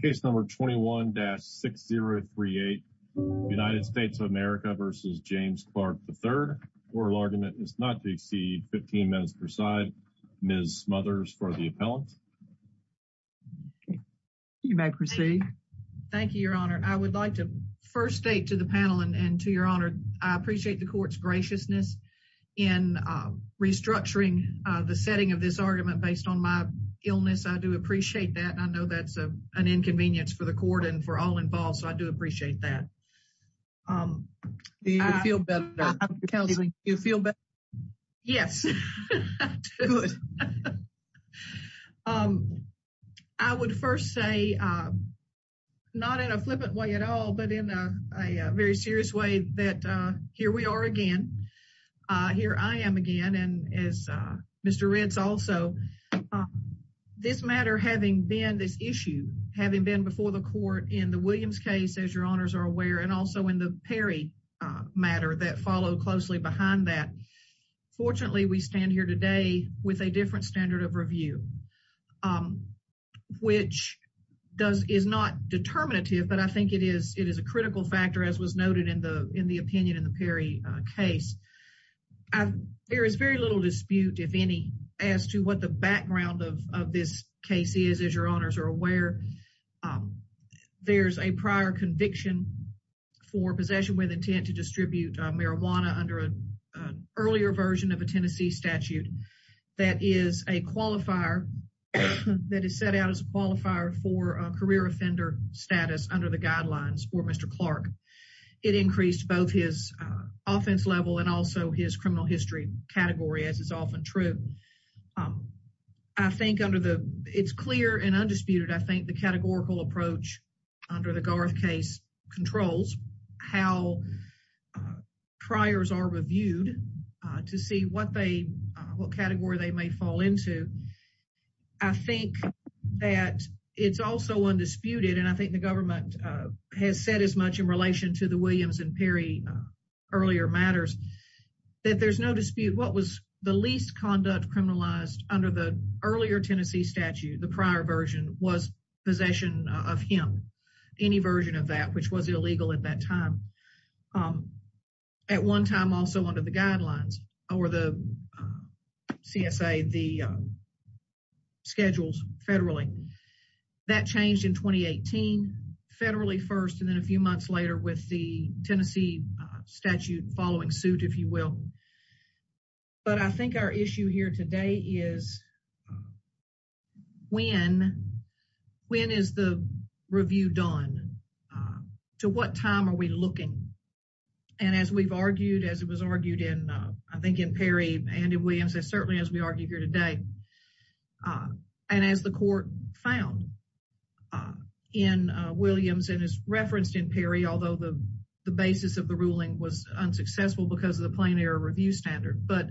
case number 21-6038 United States of America v. James Clark III. Oral argument is not to exceed 15 minutes per side. Ms. Smothers for the appellant. You may proceed. Thank you, Your Honor. I would like to first state to the panel and to Your Honor, I appreciate the court's graciousness in restructuring the setting of this argument based on my illness. I do appreciate that. I know that's an inconvenience for the court and for all involved, so I do appreciate that. Do you feel better, Counselor? Do you feel better? Yes. I would first say, not in a flippant way at all, but in a very serious way, that here we are again. Here I am again, and as Mr. Ritz also, this matter having been this issue, having been before the court in the Williams case, as Your Honors are aware, and also in the Perry matter that followed closely behind that, fortunately, we stand here today with a different standard of review, which is not determinative, but I think it is a critical factor, as was noted in the opinion in Perry case. There is very little dispute, if any, as to what the background of this case is, as Your Honors are aware. There's a prior conviction for possession with intent to distribute marijuana under an earlier version of a Tennessee statute that is a qualifier, that is set out as a qualifier for a career offender status under the guidelines for Mr. Clark. It increased both his offense level and also his criminal history category, as is often true. I think under the, it's clear and undisputed, I think the categorical approach under the Garth case controls how priors are reviewed to see what they, what category they may fall into. I think that it's also undisputed, and I think the government has said as much in relation to the Williams and Perry earlier matters, that there's no dispute what was the least conduct criminalized under the earlier Tennessee statute, the prior version, was possession of hemp, any version of that, which was illegal at that time. At one time, also under the guidelines, or the CSA, the schedules federally, that changed in 2018, federally first, and then a few months later with the Tennessee statute following suit, if you will. But I think our issue here today is when, when is the review done? To what time are we looking? And as we've argued, as it was argued in, I think in Perry and in Williams, and certainly as we argue here today, and as the court found in Williams and is referenced in Perry, although the basis of the ruling was unsuccessful because of the plain error review standard, but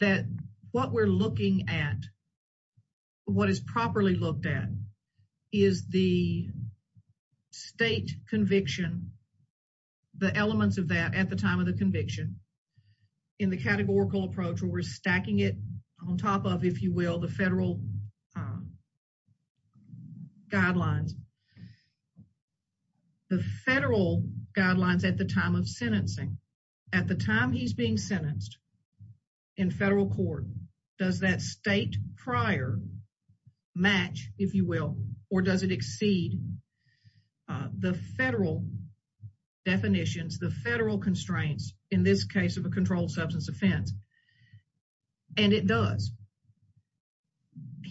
that what we're looking at, what is properly looked at, is the state conviction, the elements of that at the time of the conviction, in the categorical approach where stacking it on top of, if you will, the federal guidelines. The federal guidelines at the time of sentencing, at the time he's being sentenced in federal court, does that state prior match, if you will, or does it exceed the federal definitions, the federal constraints, in this case of a controlled substance offense? And it does.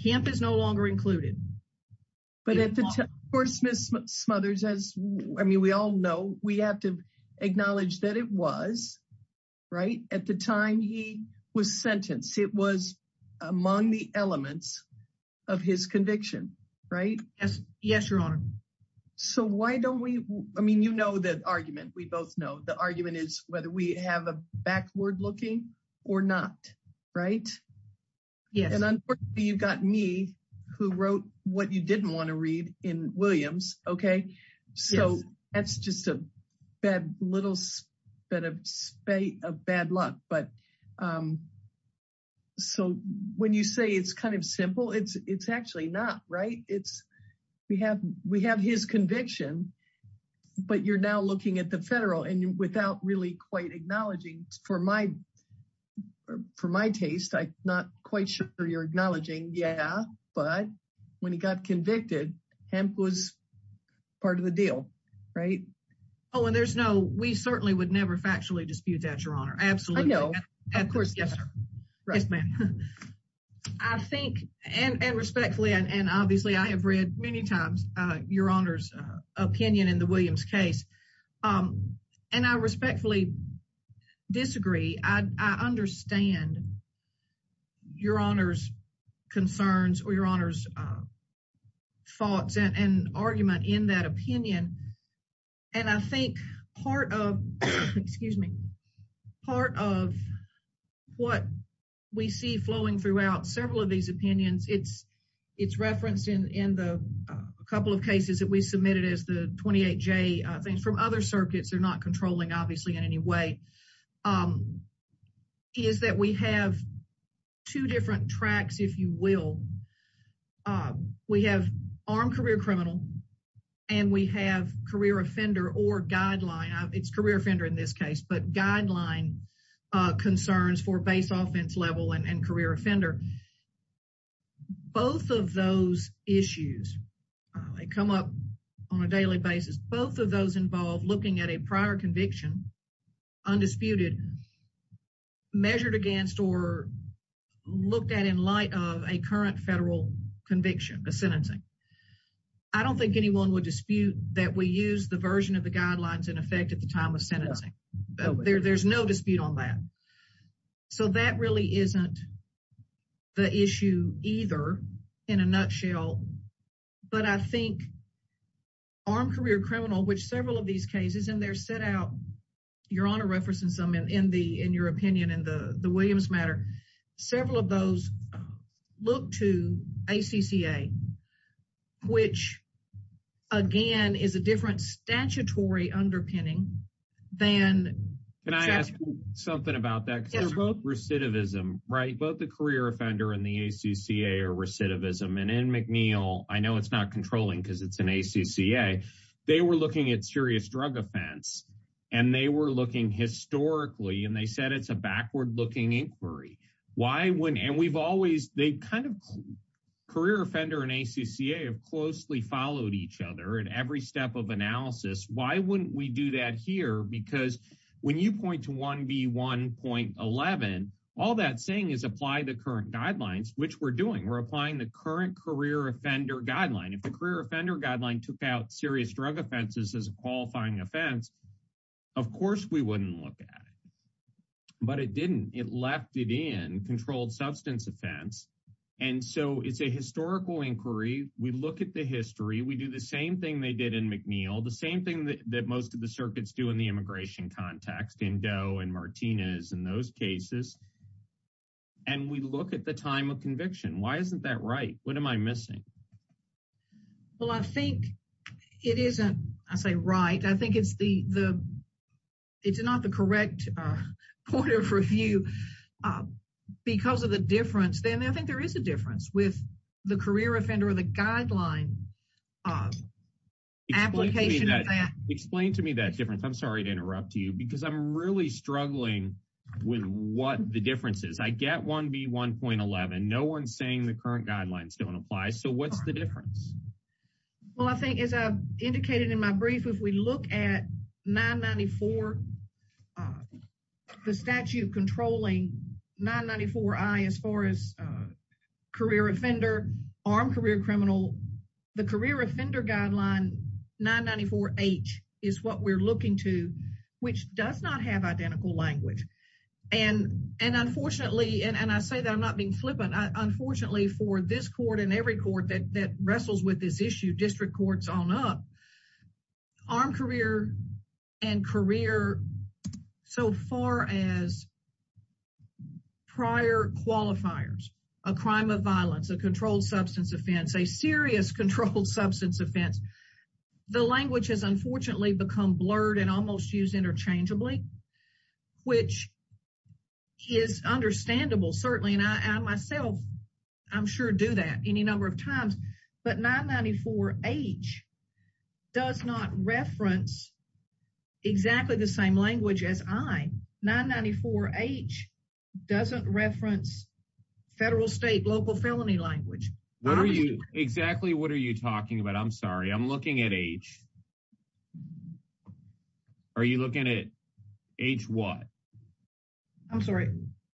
Hemp is no longer included. But at the time, of course, Ms. Smothers, I mean, we all know, we have to acknowledge that it was, right, at the time he was sentenced, it was among the elements of his conviction, right? Yes, your honor. So why don't we, I mean, you know, the argument, we both know the argument is whether we have a backward looking or not, right? Yes. And unfortunately, you've got me who wrote what you didn't want to read in Williams, okay? So that's just a little bit of bad luck. But so when you say it's kind of simple, it's actually not, right? It's, we have his conviction, but you're now looking at the or for my taste, I'm not quite sure you're acknowledging, yeah, but when he got convicted, hemp was part of the deal, right? Oh, and there's no, we certainly would never factually dispute that, your honor. Absolutely. Of course, yes, sir. Yes, ma'am. I think, and respectfully, and obviously I have read many times your honor's opinion in the Williams case. Um, and I respectfully disagree. I understand your honor's concerns or your honor's thoughts and argument in that opinion. And I think part of, excuse me, part of what we see flowing throughout several of these opinions, it's, it's referenced in, in the, uh, a couple of cases that we submitted as the 28 J, uh, things from other circuits, they're not controlling obviously in any way, um, is that we have two different tracks, if you will. Uh, we have armed career criminal and we have career offender or guideline. It's career offender in this case, but guideline, uh, concerns for base offense level and career offender. Both of those issues, uh, they come up on a daily basis. Both of those involved looking at a prior conviction undisputed measured against, or looked at in light of a current federal conviction, a sentencing. I don't think anyone would dispute that we use the version of the guidelines in effect at the time of sentencing. There, there's no dispute on that. So that really isn't the issue either in a nutshell, but I think armed career criminal, which several of these cases and they're set out, you're on a reference in some, in the, in your opinion, in the, the Williams matter, several of those look to ACCA, which again is a different statutory underpinning than. Can I ask you something about that? Because they're both recidivism, right? Both the career offender and the ACCA are recidivism and in McNeil, I know it's not controlling because it's an ACCA. They were looking at serious drug offense and they were looking historically and they said it's a backward looking inquiry. Why wouldn't, and we've always, they've kind of career offender and because when you point to 1B1.11, all that saying is apply the current guidelines, which we're doing, we're applying the current career offender guideline. If the career offender guideline took out serious drug offenses as a qualifying offense, of course we wouldn't look at it, but it didn't, it left it in controlled substance offense. And so it's a historical inquiry. We look at the history, we do the same thing they did in McNeil, the same thing that most of the circuits do in the immigration context, in Doe and Martinez and those cases. And we look at the time of conviction. Why isn't that right? What am I missing? Well, I think it isn't, I say right. I think it's the, it's not the correct point of review because of the difference, then I think there is a difference with the career offender or the guideline application. Explain to me that difference. I'm sorry to interrupt you because I'm really struggling with what the difference is. I get 1B1.11, no one's saying the current guidelines don't apply. So what's the difference? Well, I think as I've indicated in my brief, if we look at the statute controlling 994I as far as career offender, armed career criminal, the career offender guideline 994H is what we're looking to, which does not have identical language. And unfortunately, and I say that I'm not being flippant, unfortunately for this court and every on up, armed career and career, so far as prior qualifiers, a crime of violence, a controlled substance offense, a serious controlled substance offense, the language has unfortunately become blurred and almost used interchangeably, which is understandable, certainly. And I myself, I'm sure do that any number of times. But 994H does not reference exactly the same language as I. 994H doesn't reference federal, state, local felony language. What are you, exactly what are you talking about? I'm sorry, I'm looking at H. Are you looking at H what? I'm sorry,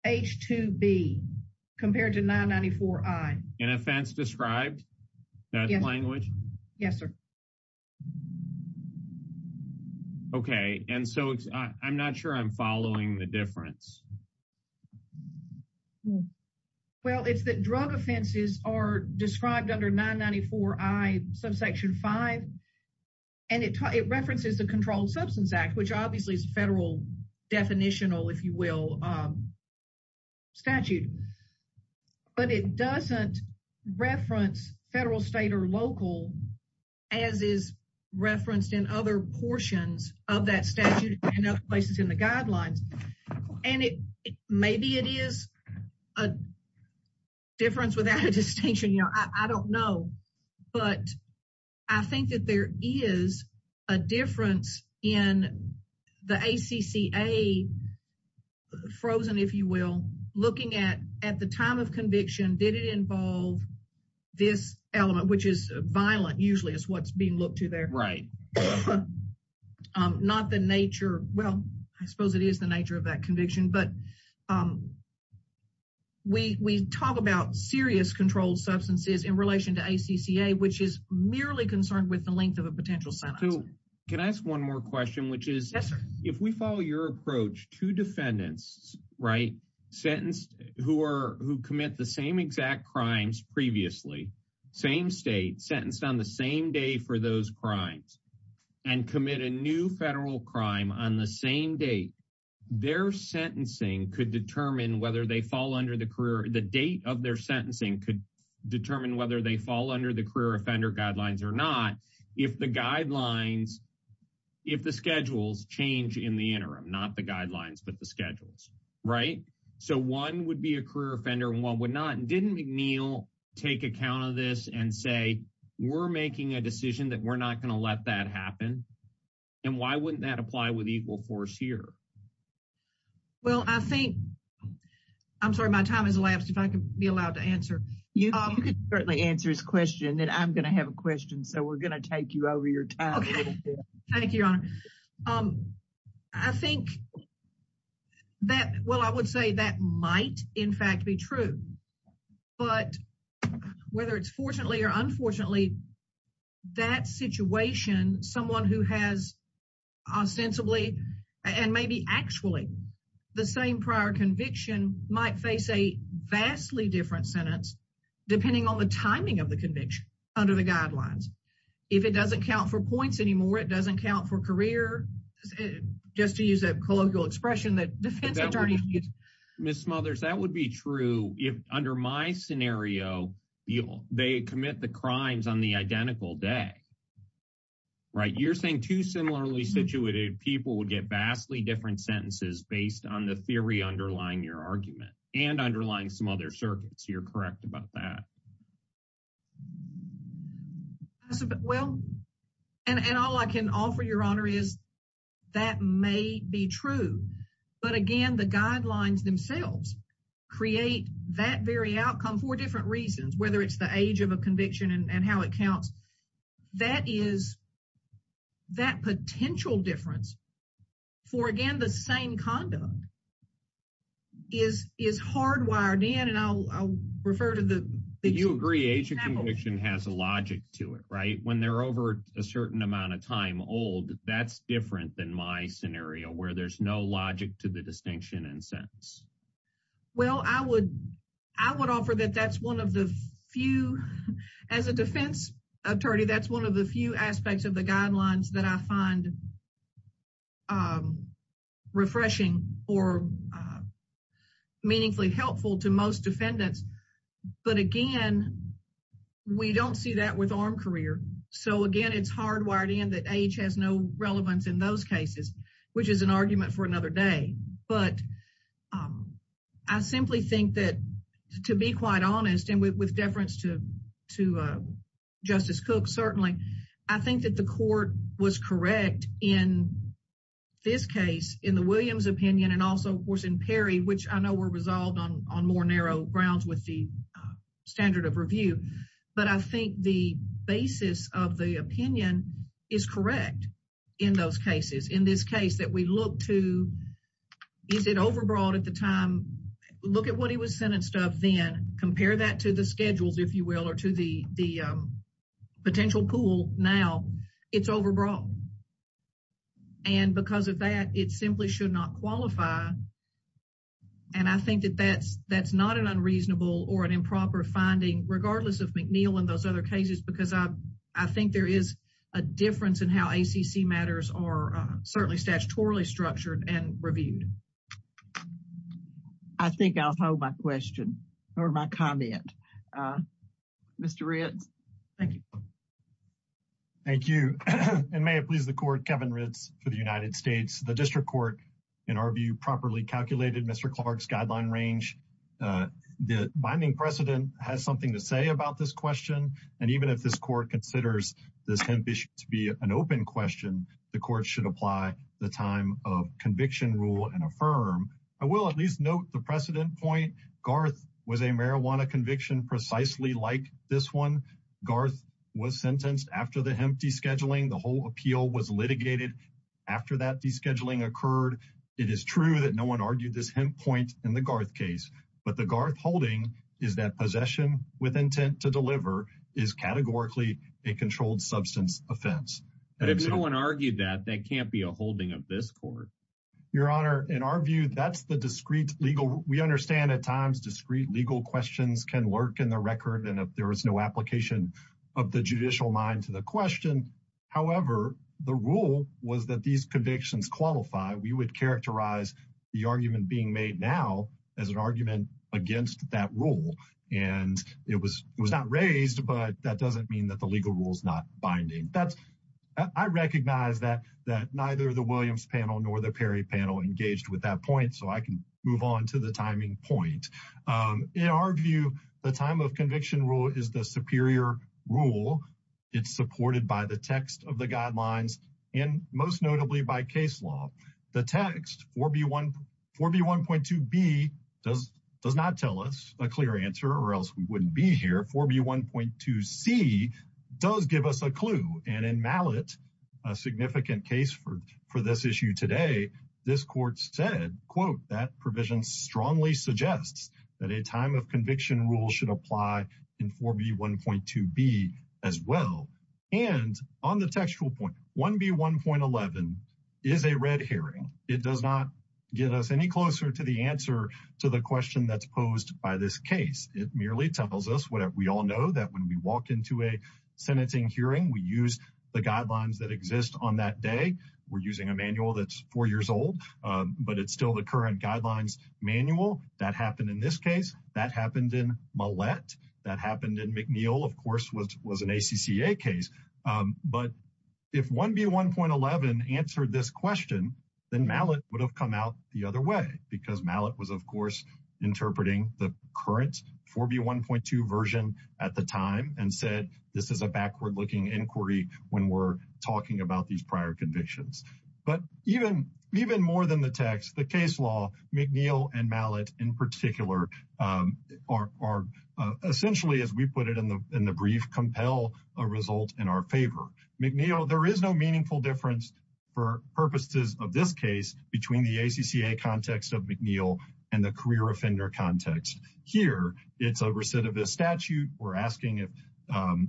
H2B compared to 994I. An offense described, that language? Yes, sir. Okay, and so I'm not sure I'm following the difference. Well, it's that drug offenses are described under 994I subsection 5, and it references the Controlled Substance Act, which obviously is a federal definitional, if you will, statute. But it doesn't reference federal, state, or local, as is referenced in other portions of that statute, and other places in the guidelines. And it, maybe it is a difference without a distinction, you know, I don't know. But I think that there is a difference in the ACCA frozen, if you will, looking at, at the time of conviction, did it involve this element, which is violent, usually is what's being looked to there. Right. Not the nature, well, I suppose it is the nature of that conviction, but we talk about serious controlled substances in relation to ACCA, which is merely concerned with the length of a potential sentence. Can I ask one more question, which is, if we follow your approach to defendants, right, sentenced, who are, who commit the same exact crimes previously, same state, sentenced on the same day for those crimes, and commit a new federal crime on the same date, their sentencing could determine whether they fall under the career, the date of their sentencing could determine whether they fall under the career offender guidelines or not, if the guidelines, if the schedules change in the interim, not the guidelines, but the schedules, right. So, one would be a career offender and one would not, didn't McNeil take account of this and say, we're making a decision that we're not going to let that happen. And why wouldn't that apply with equal force here? Well, I think, I'm sorry, my time has elapsed, if I can be allowed to answer. You can certainly answer his question, and I'm going to have a question, so we're going to take you over your time. Okay. Thank you, Your Honor. I think that, well, I would say that might, in fact, be true. But whether it's fortunately or unfortunately, that situation, someone who has ostensibly, and maybe actually, the same prior conviction might face a vastly different sentence, depending on the timing of the conviction, under the guidelines. If it doesn't count for points anymore, it doesn't count for career, just to use a colloquial expression that defense attorneys use. Ms. Smothers, that would be true if, under my scenario, they commit the crimes on the identical day, right. You're saying two similarly situated people would get vastly different sentences based on the theory underlying your argument, and underlying some other circuits. You're correct about that. Well, and all I can offer, Your Honor, is that may be true. But again, the guidelines themselves create that very outcome for different reasons, whether it's the age of a conviction and how it is hardwired in, and I'll refer to the- Do you agree age of conviction has a logic to it, right? When they're over a certain amount of time old, that's different than my scenario, where there's no logic to the distinction and sentence. Well, I would offer that that's one of the few, as a defense attorney, that's one of the few aspects of the guidelines that I find refreshing or meaningfully helpful to most defendants. But again, we don't see that with armed career. So again, it's hardwired in that age has no relevance in those cases, which is an argument for another day. But I simply think that, to be quite honest, and with deference to Justice Cook, certainly, I think that the court was correct in this case, in the Williams opinion, and also, of course, in Perry, which I know were resolved on more narrow grounds with the standard of review. But I think the basis of the opinion is correct in those cases. In this case that we look to, is it overbroad at the time? Look at what he was sentenced of, then compare that to the schedules, if you will, or to the potential pool now, it's overbroad. And because of that, it simply should not qualify. And I think that that's not an unreasonable or an improper finding, regardless of McNeil and those other cases, because I think there is a difference in how ACC matters are certainly statutorily structured and reviewed. I think I'll hold my comment. Mr. Ritz, thank you. Thank you. And may it please the court, Kevin Ritz, for the United States, the district court, in our view, properly calculated Mr. Clark's guideline range. The binding precedent has something to say about this question. And even if this court considers this to be an open question, the court should apply the time of conviction rule and will at least note the precedent point. Garth was a marijuana conviction precisely like this one. Garth was sentenced after the empty scheduling. The whole appeal was litigated after that descheduling occurred. It is true that no one argued this point in the Garth case, but the Garth holding is that possession with intent to deliver is categorically a controlled substance offense. And if no one argued that that can't be a holding of this court. Your Honor, in our view, that's the discrete legal. We understand at times discrete legal questions can lurk in the record. And if there is no application of the judicial mind to the question, however, the rule was that these convictions qualify. We would characterize the argument being made now as an argument against that rule. And it was not raised, but that doesn't mean that the legal rule is not binding. I recognize that neither the Williams panel nor the Perry panel engaged with that point, so I can move on to the timing point. In our view, the time of conviction rule is the superior rule. It's supported by the text of the guidelines and most notably by case law. The text 4B1.2B does not tell us a clear answer or else we wouldn't be here. 4B1.2C does give us a clue. And in Mallett, a significant case for this issue today, this court said, quote, that provision strongly suggests that a time of conviction rule should apply in 4B1.2B as well. And on the textual point, 1B1.11 is a red hearing. It does not get us any closer to the answer to the question that's posed by this case. It merely tells us what we all know that when we walk into a sentencing hearing, we use the guidelines that manual that's four years old, but it's still the current guidelines manual. That happened in this case. That happened in Mallett. That happened in McNeil, of course, which was an ACCA case. But if 1B1.11 answered this question, then Mallett would have come out the other way because Mallett was, of course, interpreting the current 4B1.2 version at the time and said, this is a backward inquiry when we're talking about these prior convictions. But even more than the text, the case law, McNeil and Mallett in particular are essentially, as we put it in the brief, compel a result in our favor. McNeil, there is no meaningful difference for purposes of this case between the ACCA context of McNeil and the career offender context. Here, it's a recidivist statute. We're asking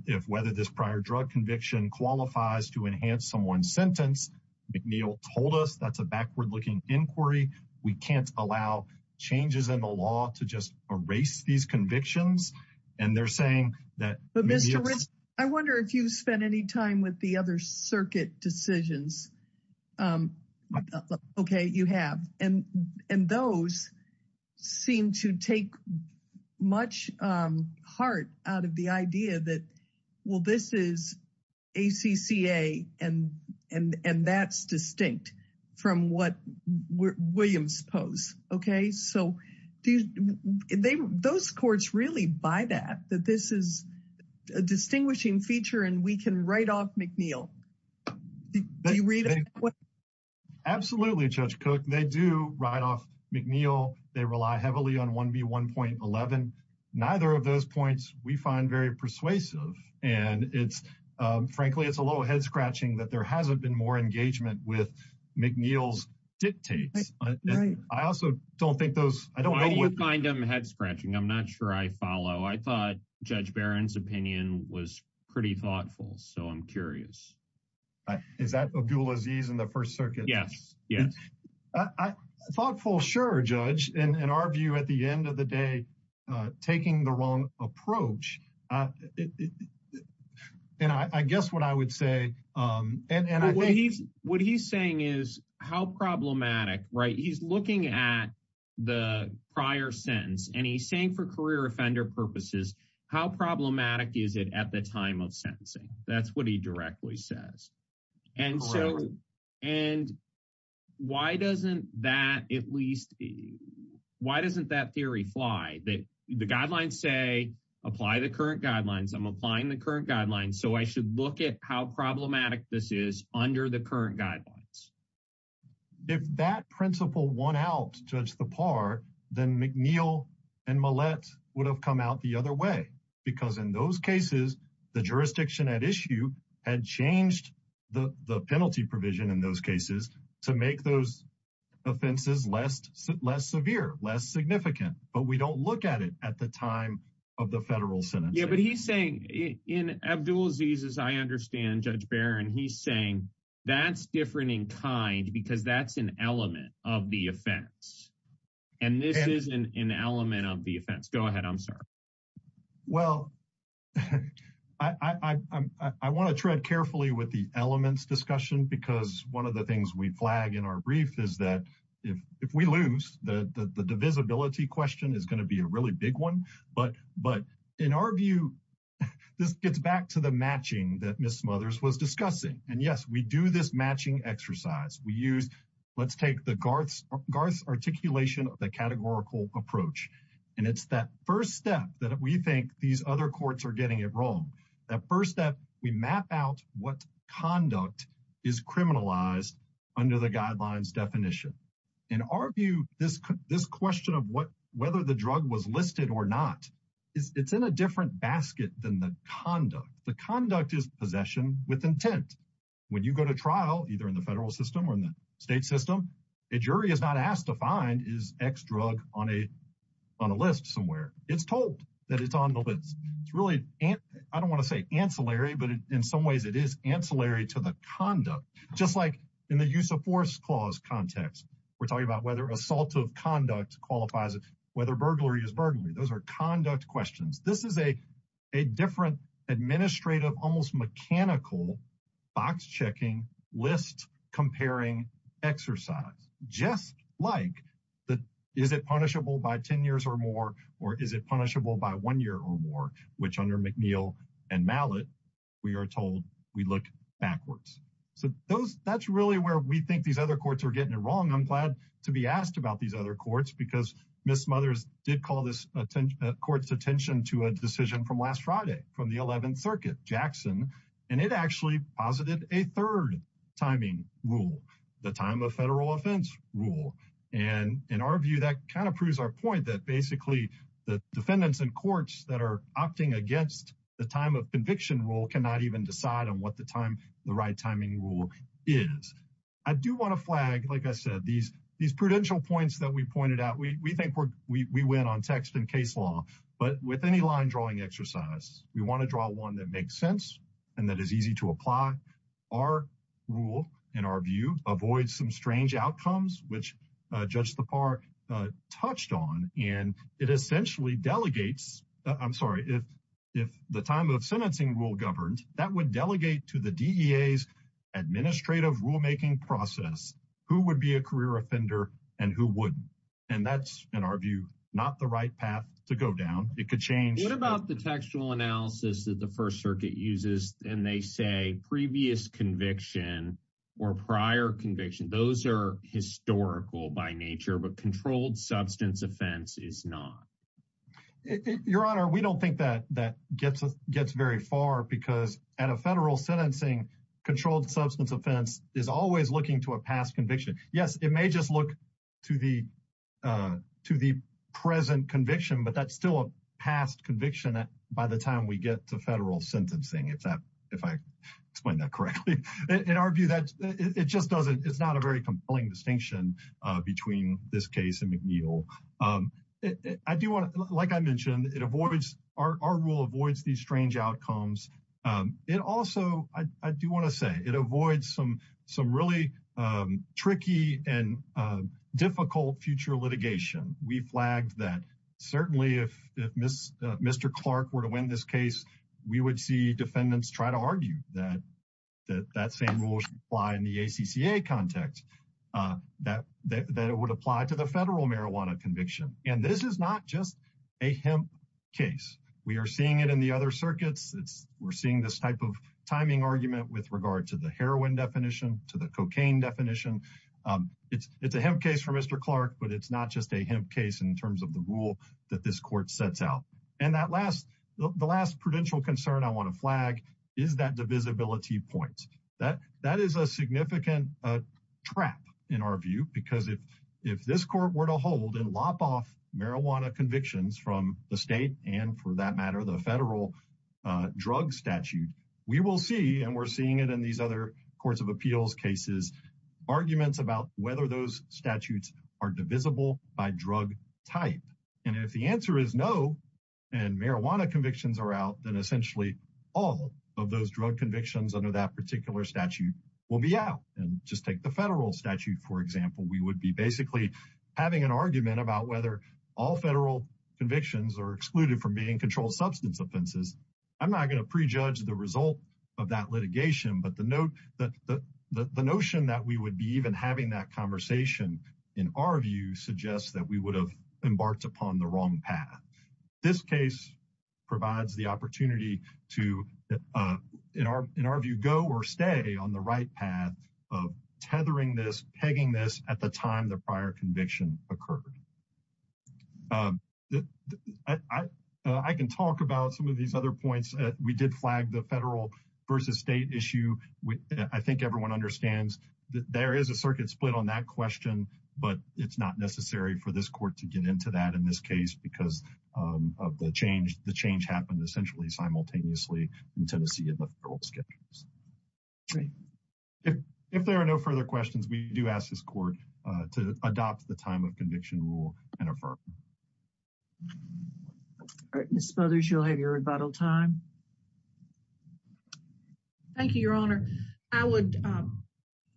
if whether this prior drug conviction qualifies to enhance someone's sentence. McNeil told us that's a backward looking inquiry. We can't allow changes in the law to just erase these convictions. And they're saying that- But Mr. Ritz, I wonder if you've spent any time with other circuit decisions. Okay, you have. And those seem to take much heart out of the idea that, well, this is ACCA and that's distinct from what Williams posed. Okay? So those courts really buy that this is a distinguishing feature and we can write off McNeil. Do you read it? Absolutely, Judge Cook. They do write off McNeil. They rely heavily on 1B1.11. Neither of those points we find very persuasive. And frankly, it's a little head scratching that there hasn't been more engagement with McNeil's dictates. I also don't think those- Why do you find them head scratching? I'm not sure I follow. I thought Judge Barron's opinion was pretty thoughtful. So I'm curious. Is that Abdul Aziz in the First Circuit? Yes. Yes. Thoughtful, sure, Judge. In our view, at the end of the day, taking the wrong approach. And I guess what I would say- What he's saying is how problematic, right? He's looking at the prior sentence and he's saying for career offender purposes, how problematic is it at the time of sentencing? That's what he directly says. Correct. And why doesn't that at least- why doesn't that theory fly? The guidelines say apply the current guidelines. I'm applying the current guidelines. So I should look at how problematic this is under the current guidelines. If that principle won out, Judge Thapar, then McNeil and Millett would have come out the other way because in those cases, the jurisdiction at issue had changed the penalty provision in those cases to make those offenses less severe, less significant. But we don't look at it at the time of the federal sentence. Yeah, but he's saying- In Abdul Aziz's, I understand, Judge Barron, he's saying that's different in kind because that's an element of the offense. And this is an element of the offense. Go ahead, I'm sorry. Well, I want to tread carefully with the elements discussion because one of the things we flag in our brief is that if we lose, the divisibility question is going to be a really big one. But in our view, this gets back to the matching that Ms. Smothers was discussing. And yes, we do this matching exercise. We use- let's take the Garth's articulation of the categorical approach. And it's that first step that we think these other courts are getting it wrong. That first step, we map out what conduct is criminalized under the guidelines definition. In our view, this question of whether the drug was listed or not, it's in a different basket than the conduct. The conduct is possession with intent. When you go to trial, either in the federal system or in the state system, a jury is not asked to find is X drug on a list somewhere. It's told that it's on the list. It's really, I don't want to say ancillary, but in some ways, it is ancillary to the conduct. Just like in the use of force clause context, we're talking about whether assault of conduct qualifies, whether burglary is burglary. Those are conduct questions. This is a different administrative, almost mechanical box checking list comparing exercise, just like the, is it punishable by 10 years or more, or is it punishable by one year or more, which under McNeil and Mallett, we are told we look backwards. That's really where we think these other courts are getting it wrong. I'm glad to be asked about these other courts because Ms. Smothers did call this court's attention to a decision from last Friday from the 11th Circuit, Jackson. It actually posited a third timing rule, the time of federal offense rule. In our view, that kind of proves our point that basically the defendants and courts that are opting against the time of conviction rule cannot even decide on what the time, the right timing rule is. I do want to flag, like I said, these prudential points that we pointed out. We think we went on text and case law, but with any line drawing exercise, we want to draw one that makes sense and that is easy to apply. Our rule, in our view, avoids some strange outcomes, which Judge Lepar touched on, and it essentially delegates, I'm sorry, if the time of sentencing rule governed, that would delegate to the DEA's administrative rulemaking process who would be a career offender and who wouldn't. And that's, in our view, not the right path to go down. It could change. What about the textual analysis that the First Circuit uses, and they say previous conviction or prior conviction, those are historical by nature, but controlled substance offense is not? Your Honor, we don't think that gets very far because at a federal sentencing, controlled substance offense is always looking to a past conviction. Yes, it may just look to the present conviction, but that's still a past conviction by the time we get to federal sentencing, if I explained that correctly. In our view, it just doesn't, it's not a very compelling distinction between this case and McNeil. I do want to, like I mentioned, it avoids, our rule avoids these strange outcomes. It also, I do want to say, it avoids some really tricky and difficult future litigation. We flagged that certainly if Mr. Clark were to win this case, we would see defendants try to argue that that same rule should apply in the ACCA context, that it would apply to the federal marijuana conviction. And this is not just a hemp case. We are seeing it in the other circuits. We're seeing this type of timing argument with regard to the heroin definition, to the cocaine definition. It's a hemp case for Mr. Clark, but it's not just a hemp case in terms of the rule that this court sets out. And that last, the last prudential concern I want to flag is that divisibility point. That is a significant trap in our view, because if this court were to hold and lop off marijuana convictions from the we're seeing it in these other courts of appeals cases, arguments about whether those statutes are divisible by drug type. And if the answer is no, and marijuana convictions are out, then essentially all of those drug convictions under that particular statute will be out. And just take the federal statute, for example. We would be basically having an argument about whether all federal convictions are excluded from being controlled substance offenses. I'm not going to prejudge the result of that litigation, but the notion that we would be even having that conversation in our view suggests that we would have embarked upon the wrong path. This case provides the opportunity to, in our view, go or stay on the right path of tethering this, pegging this at the time the prior conviction occurred. I can talk about some of these other points. We did flag the federal versus state issue. I think everyone understands that there is a circuit split on that question, but it's not necessary for this court to get into that in this case because of the change. The change happened essentially simultaneously in Tennessee in the federal schedules. If there are no further questions, we do ask this court to adopt the time of conviction rule and affirm. All right, Ms. Smothers, you'll have your rebuttal time. Thank you, Your Honor. I would,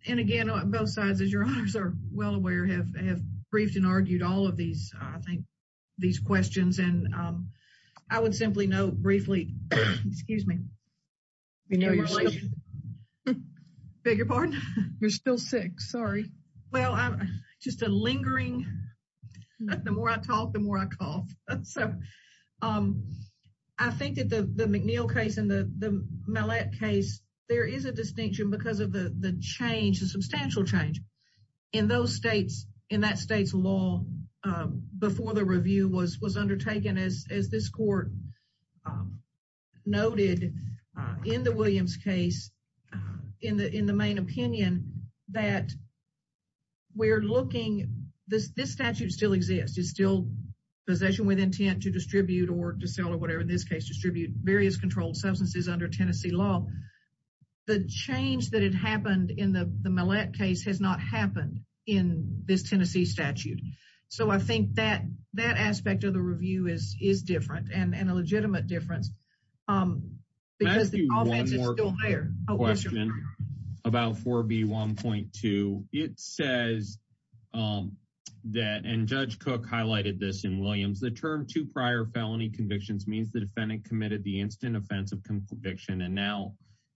and again, both sides, as Your Honors are well aware, have briefed and argued all of these, I think, these questions. And I would simply note briefly, excuse me. We know you're sick. Beg your pardon? You're still sick. Sorry. Well, just a lingering, the more I talk, the more I cough. So I think that the McNeil case and the Mallette case, there is a distinction because of the change, the substantial change in those states, in that state's law before the review was undertaken, as this court noted in the Williams case, in the main opinion, that we're looking, this statute still exists. It's still possession with intent to distribute or to sell or whatever, in this case, distribute various controlled substances under Tennessee law. The change that had happened in the Mallette case has not happened in this Tennessee statute. So I think that aspect of the review is different, and a legitimate difference, because the offense is still higher. Can I ask you one more question about 4B1.2? It says that, and Judge Cook highlighted this in Williams, the term two prior felony convictions means the defendant committed the instant offense of conviction. And now,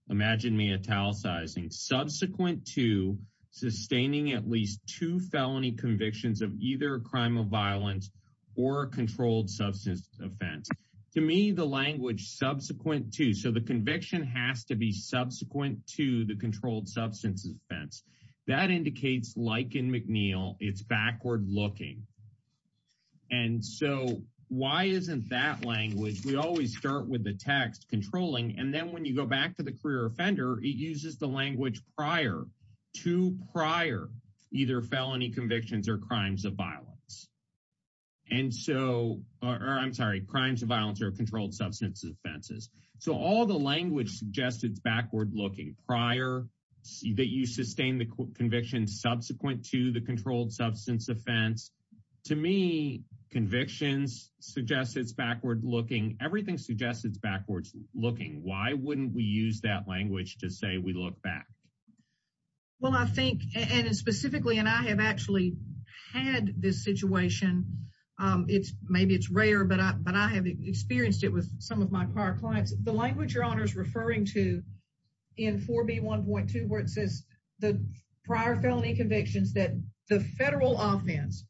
imagine me italicizing, subsequent to sustaining at least two felony convictions of either a crime of violence or a controlled substance offense. To me, the language subsequent to, so the conviction has to be subsequent to the controlled substance offense. That indicates, like in McNeil, it's backward looking. And so why isn't that language, we always start with the text, controlling, and then when you go back to the career offender, it uses the language prior, two prior, either felony convictions or crimes of violence. And so, or I'm sorry, crimes of violence or controlled substance offenses. So all the language suggests it's backward looking. Prior, that you sustain the conviction subsequent to the controlled substance offense. To me, convictions suggest it's backward looking. Everything suggests it's backwards looking. Why wouldn't we use that language to say we look back? Well, I think, and specifically, and I have actually had this situation, it's maybe it's rare, but I have experienced it with some of my prior clients. The language your honor is referring to in 4B1.2, where it says the prior felony convictions that the federal offense,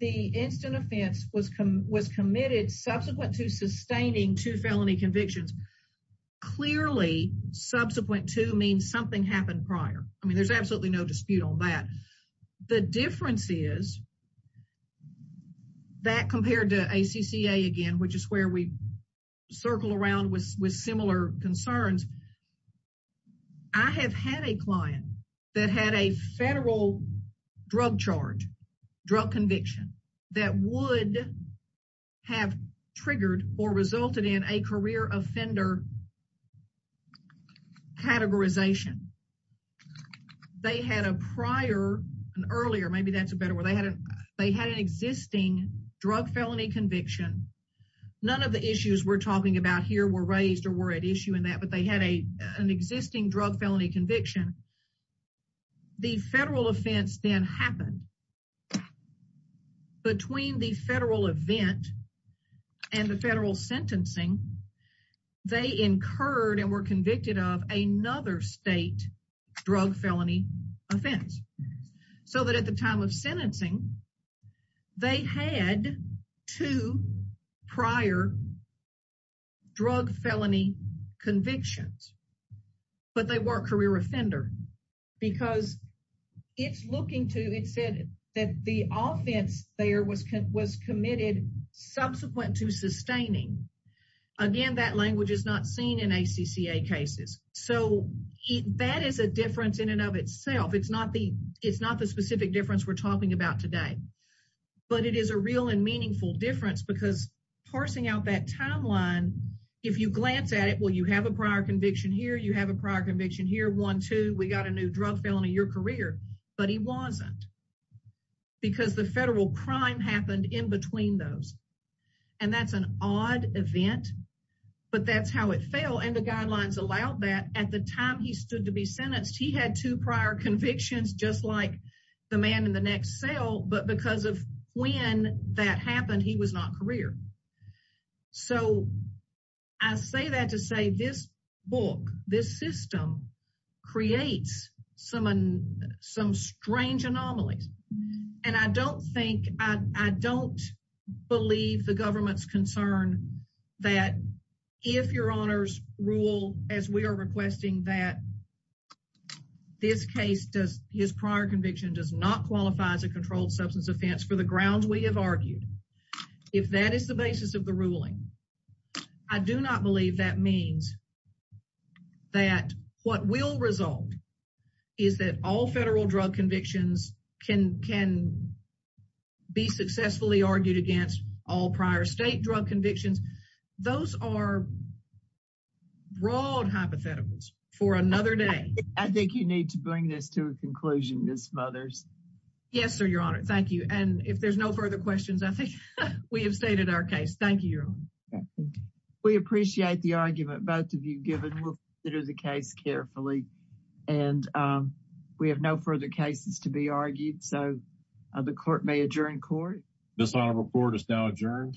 the instant offense was committed subsequent to sustaining two felony convictions. Clearly, subsequent to means something happened prior. I mean, there's absolutely no dispute on that. The difference is that compared to ACCA again, which is where we circle around with similar concerns. I have had a client that had a federal drug charge, drug conviction that would have triggered or resulted in a career offender categorization. They had a prior, an earlier, maybe that's a better word. They had an existing drug felony conviction. None of the issues we're talking about here were raised or were at issue in that, but they had an existing drug felony conviction. The federal offense then happened. Between the federal event and the federal sentencing, they incurred and were convicted of another state drug felony offense. At the time of sentencing, they had two prior drug felony convictions, but they weren't career offender because it's looking to, it said that the offense there was committed subsequent to sustaining. Again, that language is not seen in that. That is a difference in and of itself. It's not the specific difference we're talking about today, but it is a real and meaningful difference because parsing out that timeline, if you glance at it, well, you have a prior conviction here. You have a prior conviction here. One, two, we got a new drug felony, your career, but he wasn't because the federal crime happened in between those. That's an odd event, but that's how it fell. The guidelines allowed that at the time he stood to be sentenced, he had two prior convictions, just like the man in the next cell, but because of when that happened, he was not career. I say that to say this book, this system creates some strange anomalies. I don't believe the government's concern that if your honors rule, as we are requesting that this case does, his prior conviction does not qualify as a controlled substance offense for the grounds we have argued. If that is the basis of the ruling, I do not believe that means that what will result is that all federal drug convictions can be successfully argued against all prior state drug convictions. Those are broad hypotheticals for another day. I think you need to bring this to a conclusion, Ms. Mothers. Yes, sir, your honor. Thank you. And if there's no further questions, I think we have stated our case. Thank you, your honor. We appreciate the argument both of you given. We'll consider the case carefully and we have no further cases to be argued. So the court may adjourn court. This report is now adjourned.